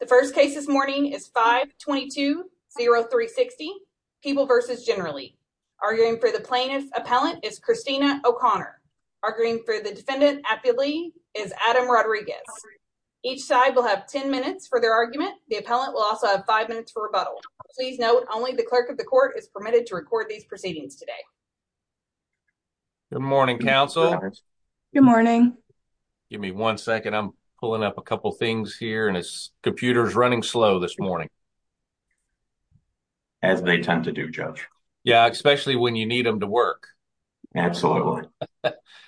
The first case this morning is 522-0360, People v. Generally. Arguing for the Plaintiff Appellant is Christina O'Connor. Arguing for the Defendant Appealee is Adam Rodriguez. Each side will have 10 minutes for their argument. The Appellant will also have 5 minutes for rebuttal. Please note, only the Clerk of the Court is permitted to record these proceedings today. Good morning, Counsel. Good morning. Give me one second, I'm pulling up a couple things here and his computer is running slow this morning. As they tend to do, Judge. Yeah, especially when you need them to work. Absolutely. All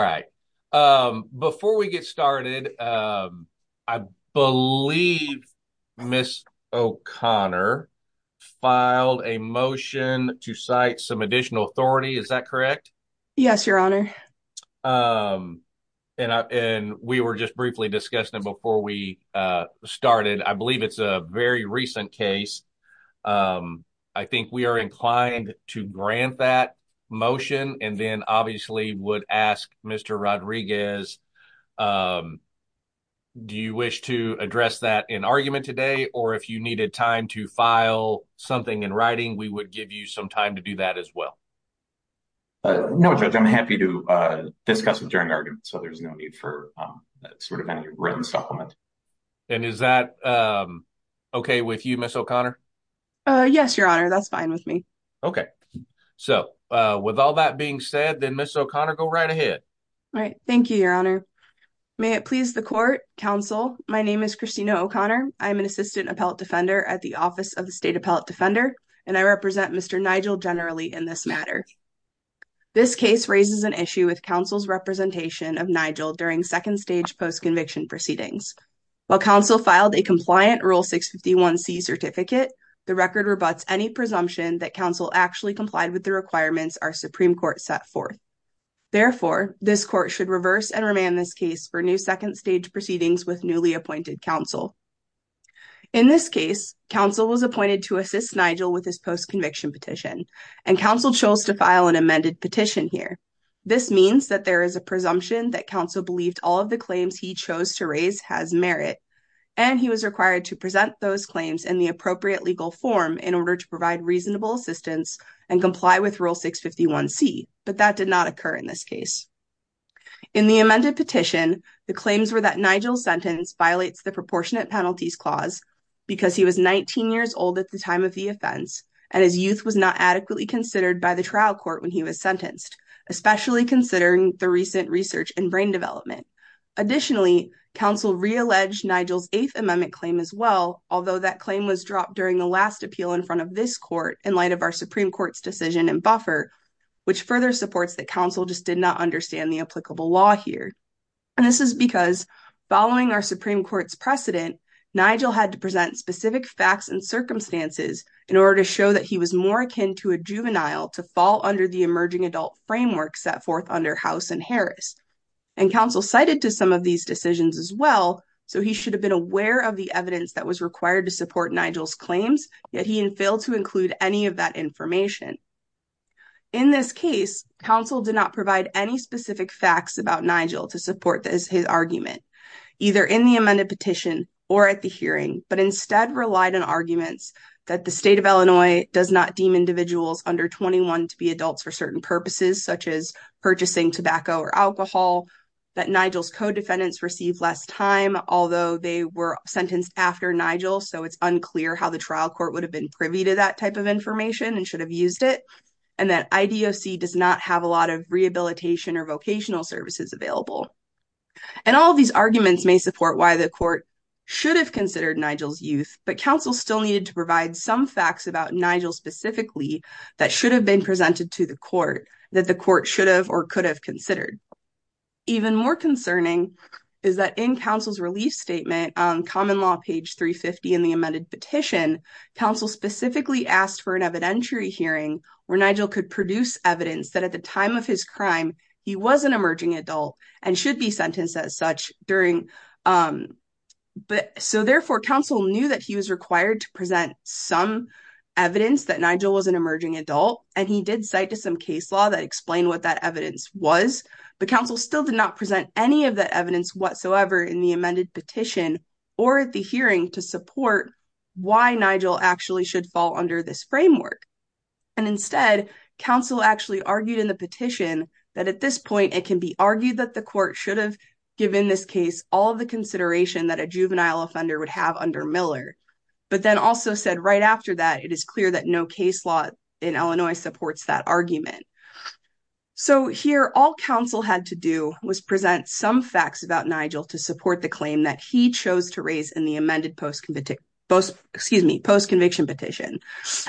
right. Before we get started, I believe Ms. O'Connor filed a motion to cite some additional authority, is that correct? Yes, Your Honor. And we were just briefly discussing it before we started. I believe it's a very recent case. I think we are inclined to grant that motion. And then obviously would ask Mr. Rodriguez, do you wish to address that in argument today? Or if you needed time to file something in writing, we would give you some time to do that as well. No, Judge, I'm happy to discuss it during argument. So there's no need for sort of any written supplement. And is that okay with you, Ms. O'Connor? Yes, Your Honor, that's fine with me. Okay. So, with all that being said, then Ms. O'Connor, go right ahead. All right. Thank you, Your Honor. May it please the Court, Counsel, my name is Christina O'Connor. I'm an Assistant Appellate Defender at the Office of the State Appellate Defender. And I represent Mr. Nigel generally in this matter. This case raises an issue with Counsel's representation of Nigel during second-stage post-conviction proceedings. While Counsel filed a compliant Rule 651C certificate, the record rebuts any presumption that Counsel actually complied with the requirements our Supreme Court set forth. Therefore, this Court should reverse and remand this case for new second-stage proceedings with newly appointed Counsel. In this case, Counsel was appointed to assist Nigel with his post-conviction petition. And Counsel chose to file an amended petition here. This means that there is a presumption that Counsel believed all of the claims he chose to raise has merit. And he was required to present those claims in the appropriate legal form in order to provide reasonable assistance and comply with Rule 651C. But that did not occur in this case. In the amended petition, the claims were that Nigel's sentence violates the Proportionate Penalties Clause because he was 19 years old at the time of the offense, and his youth was not adequately considered by the trial court when he was sentenced, especially considering the recent research and brain development. Additionally, Counsel realleged Nigel's Eighth Amendment claim as well, although that claim was dropped during the last appeal in front of this Court in light of our Supreme Court's decision in buffer, which further supports that Counsel just did not understand the applicable law here. And this is because, following our Supreme Court's precedent, Nigel had to present specific facts and circumstances in order to show that he was more akin to a juvenile to fall under the Emerging Adult Framework set forth under House and Harris. And Counsel cited to some of these decisions as well, so he should have been aware of the evidence that was required to support Nigel's claims, yet he failed to include any of that information. In this case, Counsel did not provide any specific facts about Nigel to support his argument, either in the amended petition or at the hearing, but instead relied on arguments that the State of Illinois does not deem individuals under 21 to be adults for certain purposes, such as purchasing tobacco or alcohol, that Nigel's co-defendants received less time, although they were sentenced after Nigel, so it's unclear how the trial court would have been privy to that type of information and should have used it, and that IDOC does not have a lot of rehabilitation or vocational services available. And all of these arguments may support why the Court should have considered Nigel's youth, but Counsel still needed to provide some facts about Nigel, specifically, that should have been presented to the Court, that the Court should have or could have considered. Even more concerning is that in Counsel's relief statement on Common Law, page 350 in the amended petition, Counsel specifically asked for an evidentiary hearing where Nigel could produce evidence that at the time of his crime, he was an emerging adult and should be sentenced as such during, but so therefore Counsel knew that he was required to present some evidence that Nigel was an emerging adult, and he did cite to some case law that explained what that evidence was, but Counsel still did not present any of that evidence whatsoever in the amended petition or at the hearing to support why Nigel actually should fall under this framework. And instead, Counsel actually argued in the petition that at this point, it can be argued that the Court should have given this case all the consideration that a juvenile offender would have under Miller, but then also said right after that, it is clear that no case law in Illinois supports that argument. So here, all Counsel had to do was present some facts about Nigel to support the claim that he chose to raise in the amended post-conviction petition.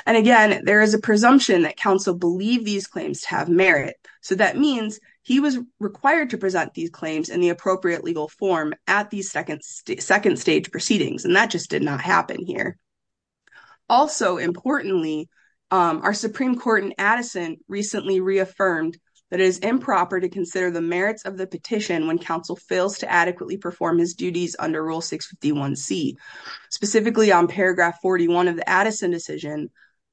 And again, there is a presumption that Counsel believed these claims to have merit. So that means he was required to present these claims in the appropriate legal form at these second stage proceedings, and that just did not happen here. Also, importantly, our Supreme Court in Addison recently reaffirmed that it is improper to consider the merits of the petition when Counsel fails to adequately perform his duties under Rule 651C. Specifically on paragraph 41 of the Addison decision,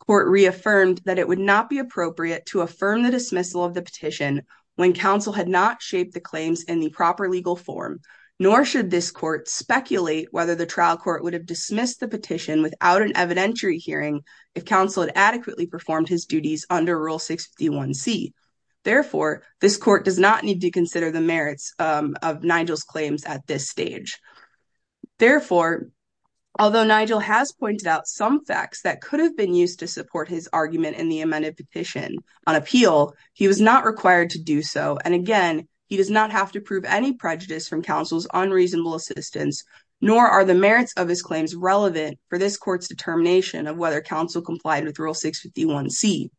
Court reaffirmed that it would not be appropriate to affirm the dismissal of the petition when Counsel had not shaped the claims in the proper legal form, nor should this Court speculate whether the trial Court would have dismissed the petition without an evidentiary hearing if Counsel had adequately performed his duties under Rule 651C. Therefore, this Court does not need to consider the merits of Nigel's claims at this stage. Therefore, although Nigel has pointed out some facts that could have been used to support his argument in the amended petition on appeal, he was not required to do so, and again, he does not have to prove any prejudice from Counsel's unreasonable assistance, nor are the merits of his claims relevant for this Court's determination of whether Counsel complied with Rule 651C.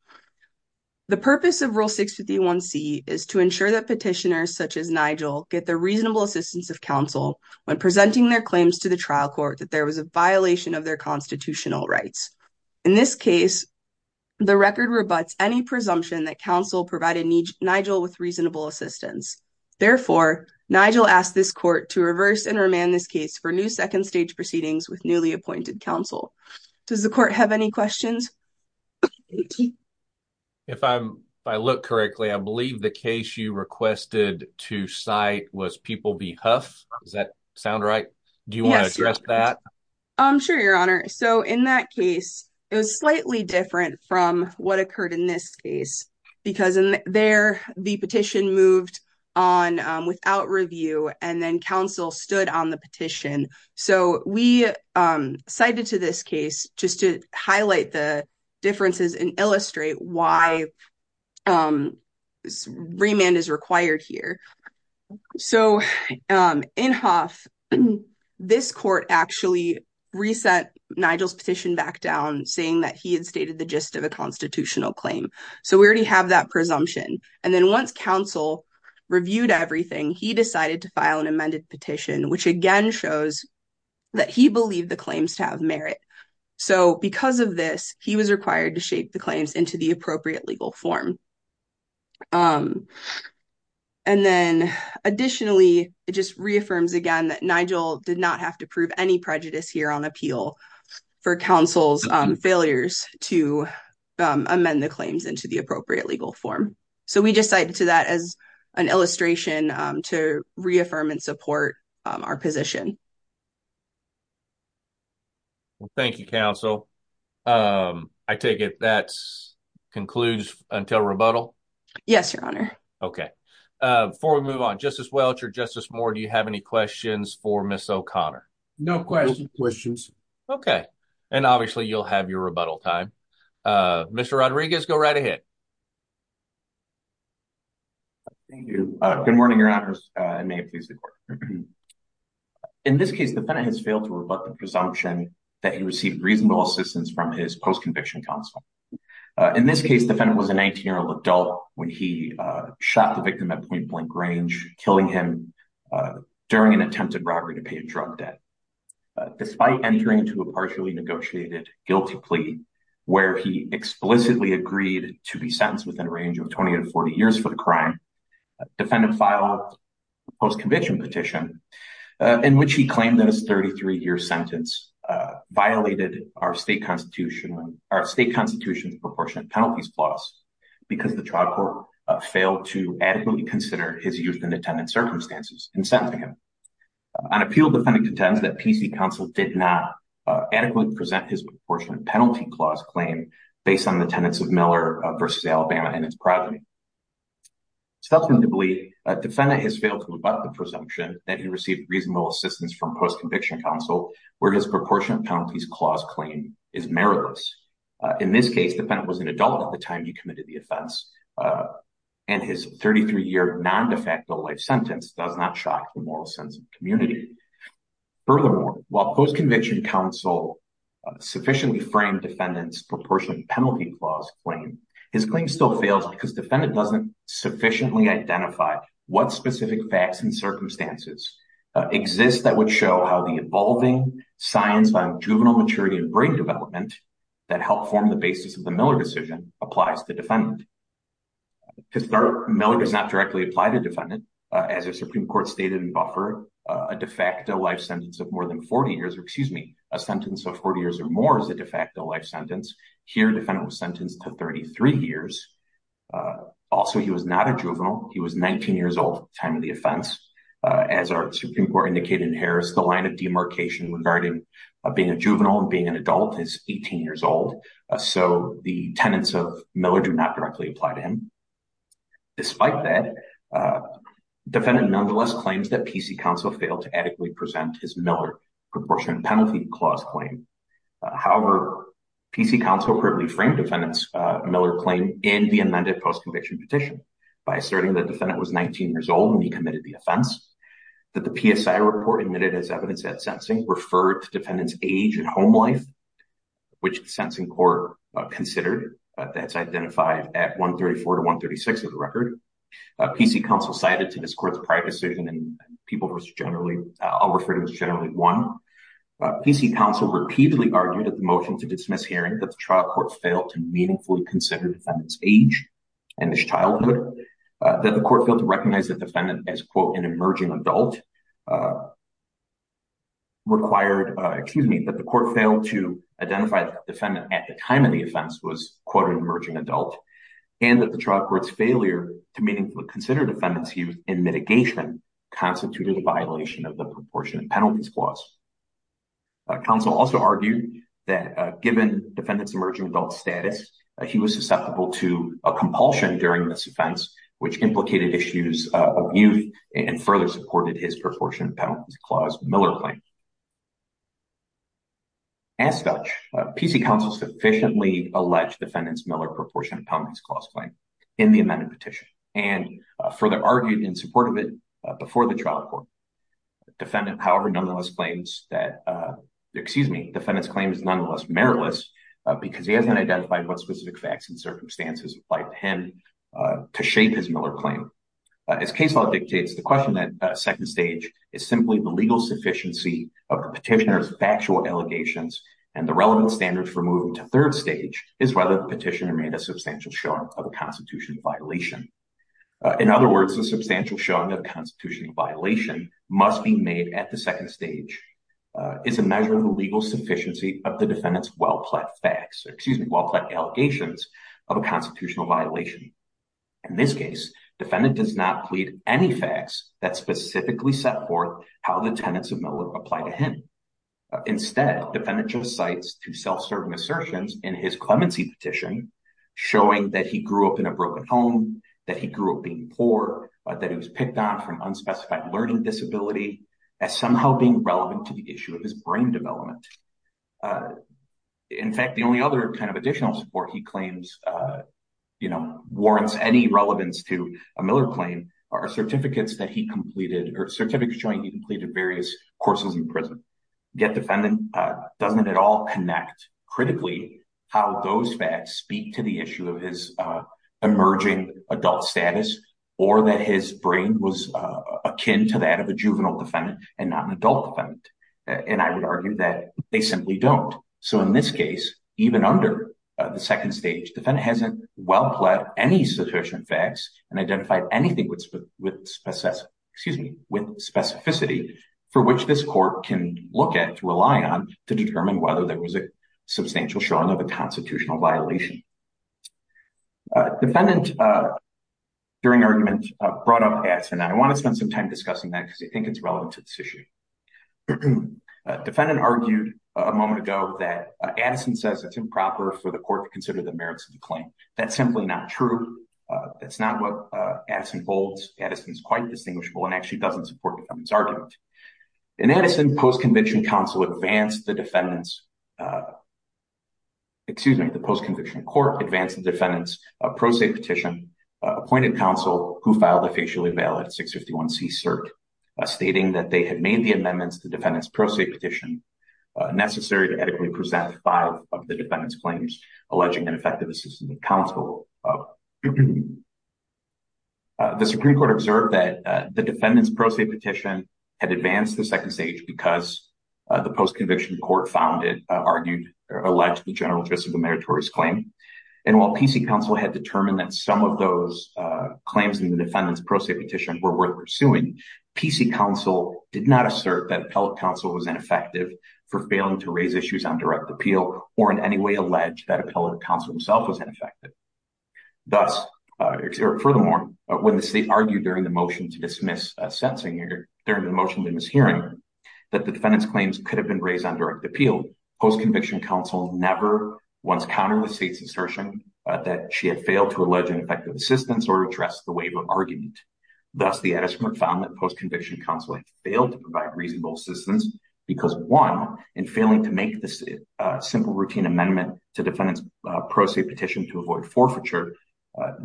The purpose of Rule 651C is to ensure that petitioners such as Nigel get the reasonable assistance of Counsel when presenting their claims to the trial Court that there was a violation of their constitutional rights. In this case, the record rebuts any presumption that Counsel provided Nigel with reasonable assistance. Therefore, Nigel asked this Court to reverse and remand this case for new second-stage proceedings with newly appointed Counsel. Does the Court have any questions? If I look correctly, I believe the case you requested to cite was People v. Huff. Does that sound right? Do you want to address that? Sure, Your Honor. So, in that case, it was slightly different from what occurred in this case, because in there, the petition moved on without review, and then Counsel stood on the petition. So, we cited to this case just to highlight the differences and illustrate why remand is required here. So, in Huff, this Court actually reset Nigel's petition back down, saying that he had stated the gist of a constitutional claim. So, we already have that presumption. And then once Counsel reviewed everything, he decided to file an amended petition, which again shows that he believed the claims to have merit. So, because of this, he was required to shape the claims into the appropriate legal form. And then, additionally, it just reaffirms again that Nigel did not have to prove any prejudice here on appeal for Counsel's failures to amend the claims into the appropriate legal form. So, we just cited to that as an illustration to reaffirm and support our position. Thank you, Counsel. I take it that concludes until rebuttal? Yes, Your Honor. Okay. Before we move on, Justice Welch or Justice Moore, do you have any questions for Ms. O'Connor? No questions. Okay. And obviously, you'll have your rebuttal time. Mr. Rodriguez, go right ahead. Thank you. Good morning, Your Honors. And may it please the Court. In this case, the defendant has failed to rebut the presumption that he received reasonable assistance from his post-conviction counsel. In this case, the defendant was a 19-year-old adult when he shot the victim at point-blank range, killing him during an attempted robbery to pay a drug debt. Despite entering into a partially negotiated guilty plea where he explicitly agreed to be sentenced within a range of 20 to 40 years for the crime, the defendant filed a post-conviction petition in which he claimed that his 33-year sentence violated our State Constitution's Proportionate Penalties Clause because the trial court failed to adequately consider his youth in attendance circumstances in sentencing him. On appeal, the defendant contends that PC Counsel did not adequately present his Proportionate Penalty Clause claim based on the attendance of Miller v. Alabama and its progeny. Substantively, the defendant has failed to rebut the presumption that he received reasonable assistance from PC Counsel where his Proportionate Penalties Clause claim is meritless. In this case, the defendant was an adult at the time he committed the offense and his 33-year non-de facto life sentence does not shock the moral sense of the community. Furthermore, while PC Counsel sufficiently framed the defendant's Proportionate Penalty Clause claim, his claim still fails because the defendant doesn't sufficiently identify what specific facts and circumstances exist that would show how the evolving science on juvenile maturity and brain development that helped form the basis of the Miller decision applies to the defendant. To start, Miller does not directly apply to the defendant. As the Supreme Court stated in Buffer, a de facto life sentence of more than 40 years or excuse me, a sentence of 40 years or more is a de facto life sentence. Here, the defendant was sentenced to 33 years. Also, he was not a juvenile. He was 19 years old at the time of the offense. As our Supreme Court indicated in Harris, the line of demarcation regarding being a juvenile and being an adult is 18 years old. So, the tenets of Miller do not directly apply to him. Despite that, the defendant nonetheless claims that PC Counsel failed to adequately present his Miller Proportionate Penalty Clause claim. However, PC Counsel appropriately framed the defendant's Miller claim in the amended post-conviction petition by asserting that the defendant was 19 years old when he committed the offense, that the PSI report admitted as evidence that sentencing referred to defendant's age and home life, which the sentencing court considered. That's identified at 134 to 136 of the record. PC Counsel cited to this court's prior decision and I'll refer to it as Generally 1. PC Counsel repeatedly argued at the motion to dismiss hearing that the trial court failed to meaningfully consider the defendant's age and his childhood, that the court failed to recognize the defendant as an emerging adult, and that the trial court's failure to meaningfully consider defendant's youth in mitigation constituted a violation of the Proportionate Penalty Clause. Counsel also argued that given defendant's emerging adult status, he was susceptible to a compulsion during this offense, which implicated issues of youth and further supported his parole. As such, PC Counsel sufficiently alleged defendant's Miller Proportionate Penalty Clause claim in the amended petition and further argued in support of it before the trial court. Defendant's claim is nonetheless meritless because he hasn't identified what specific facts and circumstances applied to him to shape his Miller claim. The second stage is simply the legal sufficiency of the petitioner's factual allegations and the relevant standard for moving to third stage is whether the petitioner made a substantial showing of a constitutional violation. In other words, a substantial showing of a constitutional violation must be made at the second stage is a measure of the legal sufficiency of the defendant's well-pled allegations of a constitutional violation. In this case, defendant does not plead any facts that specifically set forth how the tenets of Miller apply to him. Instead, defendant just cites two self-serving assertions in his clemency petition showing that he grew up in a broken home, that he grew up being poor, that he was picked on from unspecified learning disability, as somehow being relevant to the issue of his brain development. In fact, the only other kind of additional support he claims warrants any relevance to a Miller claim are certificates showing he completed various courses in prison. Yet defendant doesn't at all connect critically how those facts speak to the issue of his emerging adult status or that his brain was akin to that of a juvenile defendant and not an adult defendant. And I would argue that they simply don't. So in this case, even under the second stage, defendant hasn't well-pled any sufficient facts and identified anything with specificity for which this court can look at, rely on to determine whether there was a substantial showing of a constitutional violation. Defendant during argument brought up Addison. I want to spend some time discussing that because I think it's relevant to this issue. Defendant argued a moment ago that Addison says it's improper for the court to consider the merits of the claim. That's simply not true. That's not what Addison holds. Addison is quite distinguishable and actually doesn't support the defendant's argument. In Addison, post-conviction counsel advanced the defendant's excuse me, the post-conviction court advanced the defendant's pro se petition, appointed counsel who filed a facially valid 651c cert stating that they had made the amendments to the defendant's pro se petition necessary to adequately present five of the defendant's claims alleging ineffective assistance of counsel. The Supreme Court observed that the defendant's pro se petition had advanced the second stage because the post-conviction court found it argued or alleged the general interest of the meritorious claim and while PC counsel had determined that some of those claims in the defendant's pro se petition were worth pursuing, PC counsel did not assert that appellate counsel was ineffective for failing to raise issues on direct appeal or in any way allege that appellate counsel himself was ineffective. Furthermore, when the state argued during the motion to dismiss sentencing, during the motion of the mishearing, that the defendant's claims could have been raised on direct appeal, PC counsel never once countered the state's assertion that she had failed to allege ineffective assistance or address the wave of argument. Thus, the adjustment found that PC counsel had failed to provide reasonable assistance because one in failing to make this simple routine amendment to defendant's pro se petition to avoid forfeiture,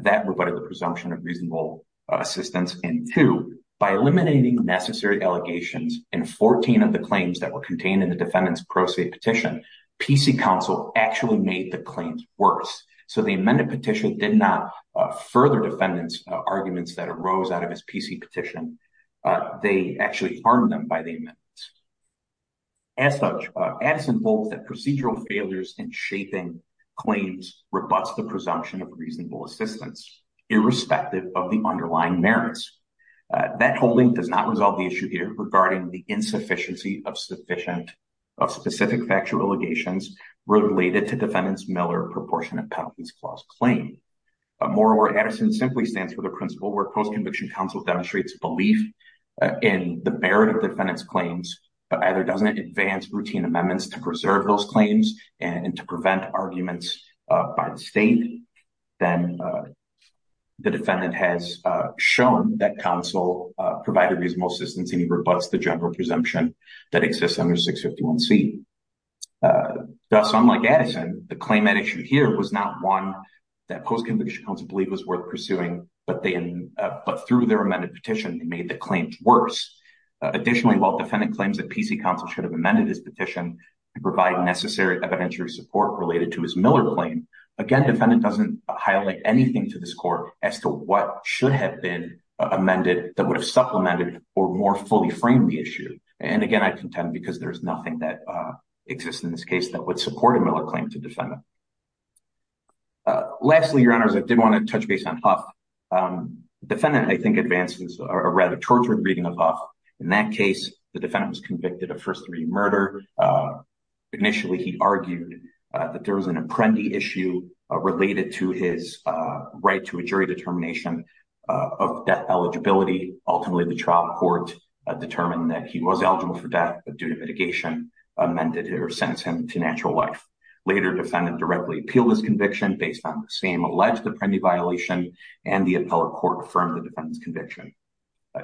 that rebutted the presumption of reasonable assistance and two, by eliminating necessary allegations in 14 of the claims that were contained in the defendant's pro se petition, PC counsel actually made the claims worse. So, the amended petition did not further defendant's arguments that arose out of his PC petition. They actually harmed them by the amendments. As such, Addison holds that procedural failures in shaping claims rebuts the presumption of reasonable assistance irrespective of the underlying merits. That holding does not resolve the issue here regarding the insufficiency of specific factual allegations related to defendant's Miller Proportionate Penalties Clause claim. Moreover, Addison simply stands for the principle where post-conviction counsel demonstrates belief in the merit of defendant's claims, but either doesn't advance routine amendments to preserve those claims and to prevent arguments by the state, then the defendant has shown that counsel provided reasonable assistance and rebuts the general presumption that exists under 651C. Thus, unlike Addison, the claim at issue here was not one that post-conviction counsel believed was worth pursuing, but through their amended petition, they made the claims worse. Additionally, while defendant claims that PC counsel should have amended his petition to provide necessary evidentiary support related to his Miller claim, again defendant doesn't highlight anything to this court as to what should have been amended that would have supplemented or more fully framed the issue. Again, I contend because there is nothing that exists in this case that would support a Miller claim to defendant. Lastly, Your Honors, I did want to touch base on Huff. Defendant, I think, advances a rather tortured reading of Huff. In that case, the defendant was convicted of first-degree murder. Initially, he argued that there was an Apprendi issue related to his right to a jury determination of death eligibility. Ultimately, the trial court determined that he was eligible for death, but due to mitigation, amended or sentenced him to natural life. Later, defendant directly appealed his conviction based on the same alleged Apprendi violation, and the appellate court affirmed the defendant's conviction.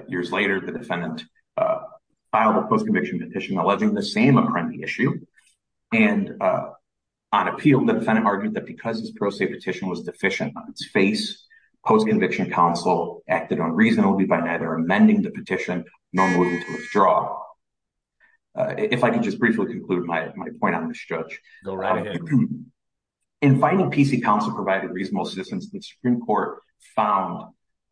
Years later, the defendant filed a post-conviction petition alleging the same Apprendi issue. On appeal, the defendant argued that because his pro se petition was deficient on its face, post-conviction counsel acted unreasonably by neither amending the petition nor moving to withdraw. If I could just briefly conclude my point on this, Judge. In finding PC counsel provided reasonable assistance, the Supreme Court found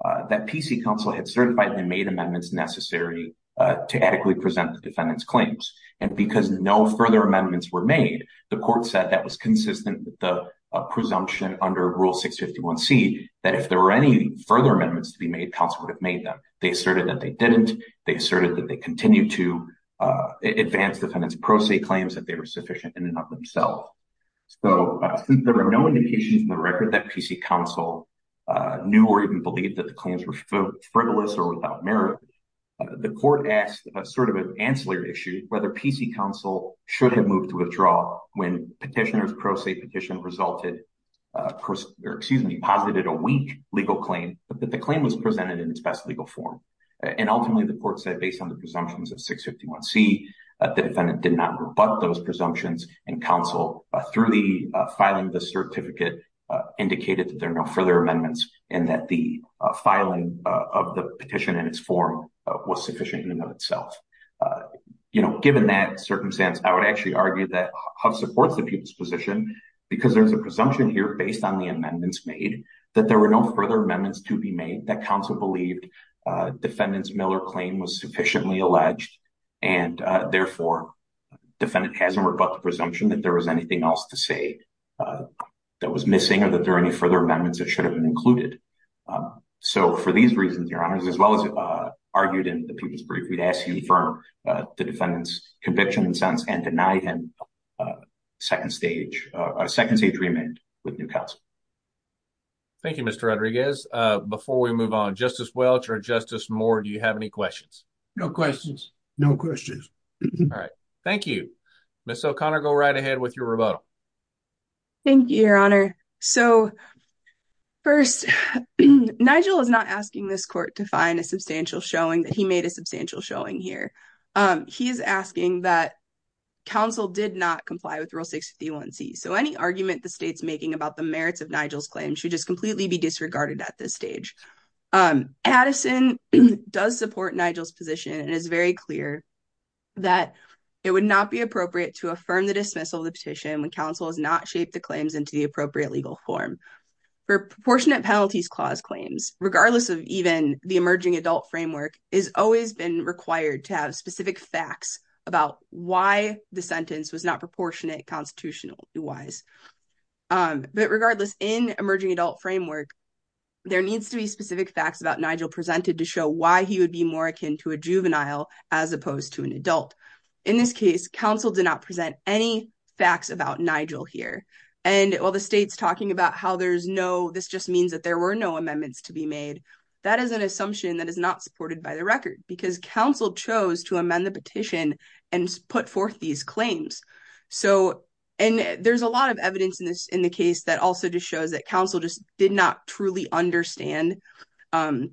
that PC counsel had certified and made amendments necessary to adequately present the defendant's claims. And because no further amendments were made, the court said that was consistent with the presumption under Rule 651C that if there were any further amendments to be made, counsel would have made them. They asserted that they didn't. They asserted that they continued to advance defendant's pro se claims that they were sufficient in and of themselves. So, since there were no indications in the record that PC counsel knew or even believed that the claims were frivolous or without merit, the court asked a sort of ancillary issue whether PC counsel should have moved to withdraw when petitioner's pro se petition resulted or, excuse me, posited a weak legal claim, but that the claim was presented in its best legal form. And ultimately, the court said, based on the presumptions of 651C, the defendant did not rebut those presumptions and counsel, through the filing of the certificate, indicated that there are no further amendments and that the filing of the petition in its form was sufficient in and of itself. You know, given that circumstance, I would actually argue that Huff supports the people's position because there's a presumption here based on the amendments made that there were no further amendments to be made that counsel believed defendant's Miller claim was sufficiently alleged and, therefore, defendant hasn't rebut the presumption that there was anything else to say that was missing or that there are any further amendments that should have been included. So, for these reasons, your honors, as well as argued in the people's brief, we'd ask you to confirm the defendant's conviction and sentence and deny him second stage remand with new counsel. Thank you, Mr. Rodriguez. Before we move on, Justice Welch or Justice Moore, do you have any questions? No questions. No questions. Thank you. Ms. O'Connor, go right ahead with your rebuttal. Thank you, your honor. So, first, Nigel is not asking this court to find a substantial showing that he made a substantial showing here. He is asking that counsel did not comply with Rule 651C, so any argument the state's making about the merits of Nigel's claim should just completely be disregarded at this stage. Addison does support Nigel's position and is very clear that it would not be appropriate to affirm the dismissal of the petition when counsel has not shaped the claims into the appropriate legal form. For proportionate penalties clause claims, regardless of even the emerging adult framework, it has always been required to have specific facts about why the sentence was not proportionate constitutionally wise. But, regardless, in emerging adult framework, there needs to be specific facts about Nigel presented to show why he would be more akin to a juvenile as opposed to an adult. In this case, counsel did not present any facts about Nigel here. While the state's talking about how this just means that there were no amendments to be made, that is an assumption that is not supported by the record because counsel chose to amend the petition and put forth these claims. There's a lot of evidence in this case that also just shows that counsel just did not truly understand the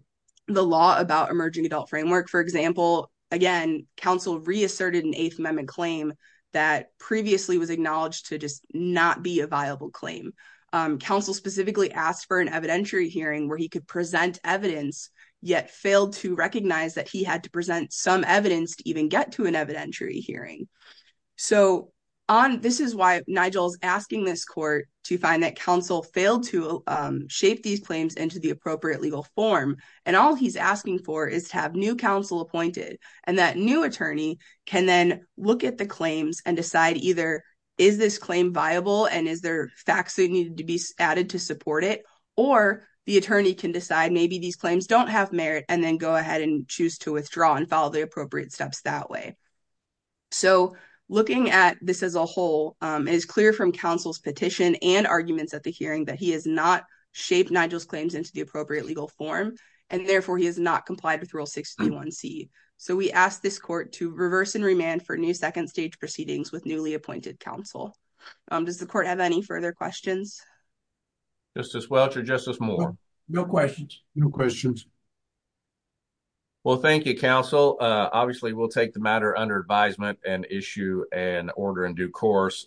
law about emerging adult framework. For example, again, counsel reasserted an Eighth Amendment claim that previously was acknowledged to just not be a viable claim. Counsel specifically asked for an evidentiary hearing where he could present evidence, yet failed to recognize that he had to present some evidence to even get to an evidentiary hearing. So, this is why Nigel is asking this court to find that counsel failed to shape these claims into the appropriate legal form. And all he's asking for is to have new counsel appointed. And that new attorney can then look at the claims and decide either, is this claim viable and is there facts that need to be added to support it? Or, the attorney can decide maybe these claims don't have merit and then go ahead and choose to withdraw and follow the appropriate steps that way. So, looking at this as a whole, it is clear from counsel's petition and arguments at the hearing that he has not shaped Nigel's claims into the appropriate legal form and therefore he has not complied with Rule 631C. So, we ask this court to reverse and remand for new second stage proceedings with newly appointed counsel. Does the court have any further questions? Justice Welch or Justice Moore? No questions. Well, thank you, counsel. Obviously, we'll take the matter under advisement and issue an order in due course.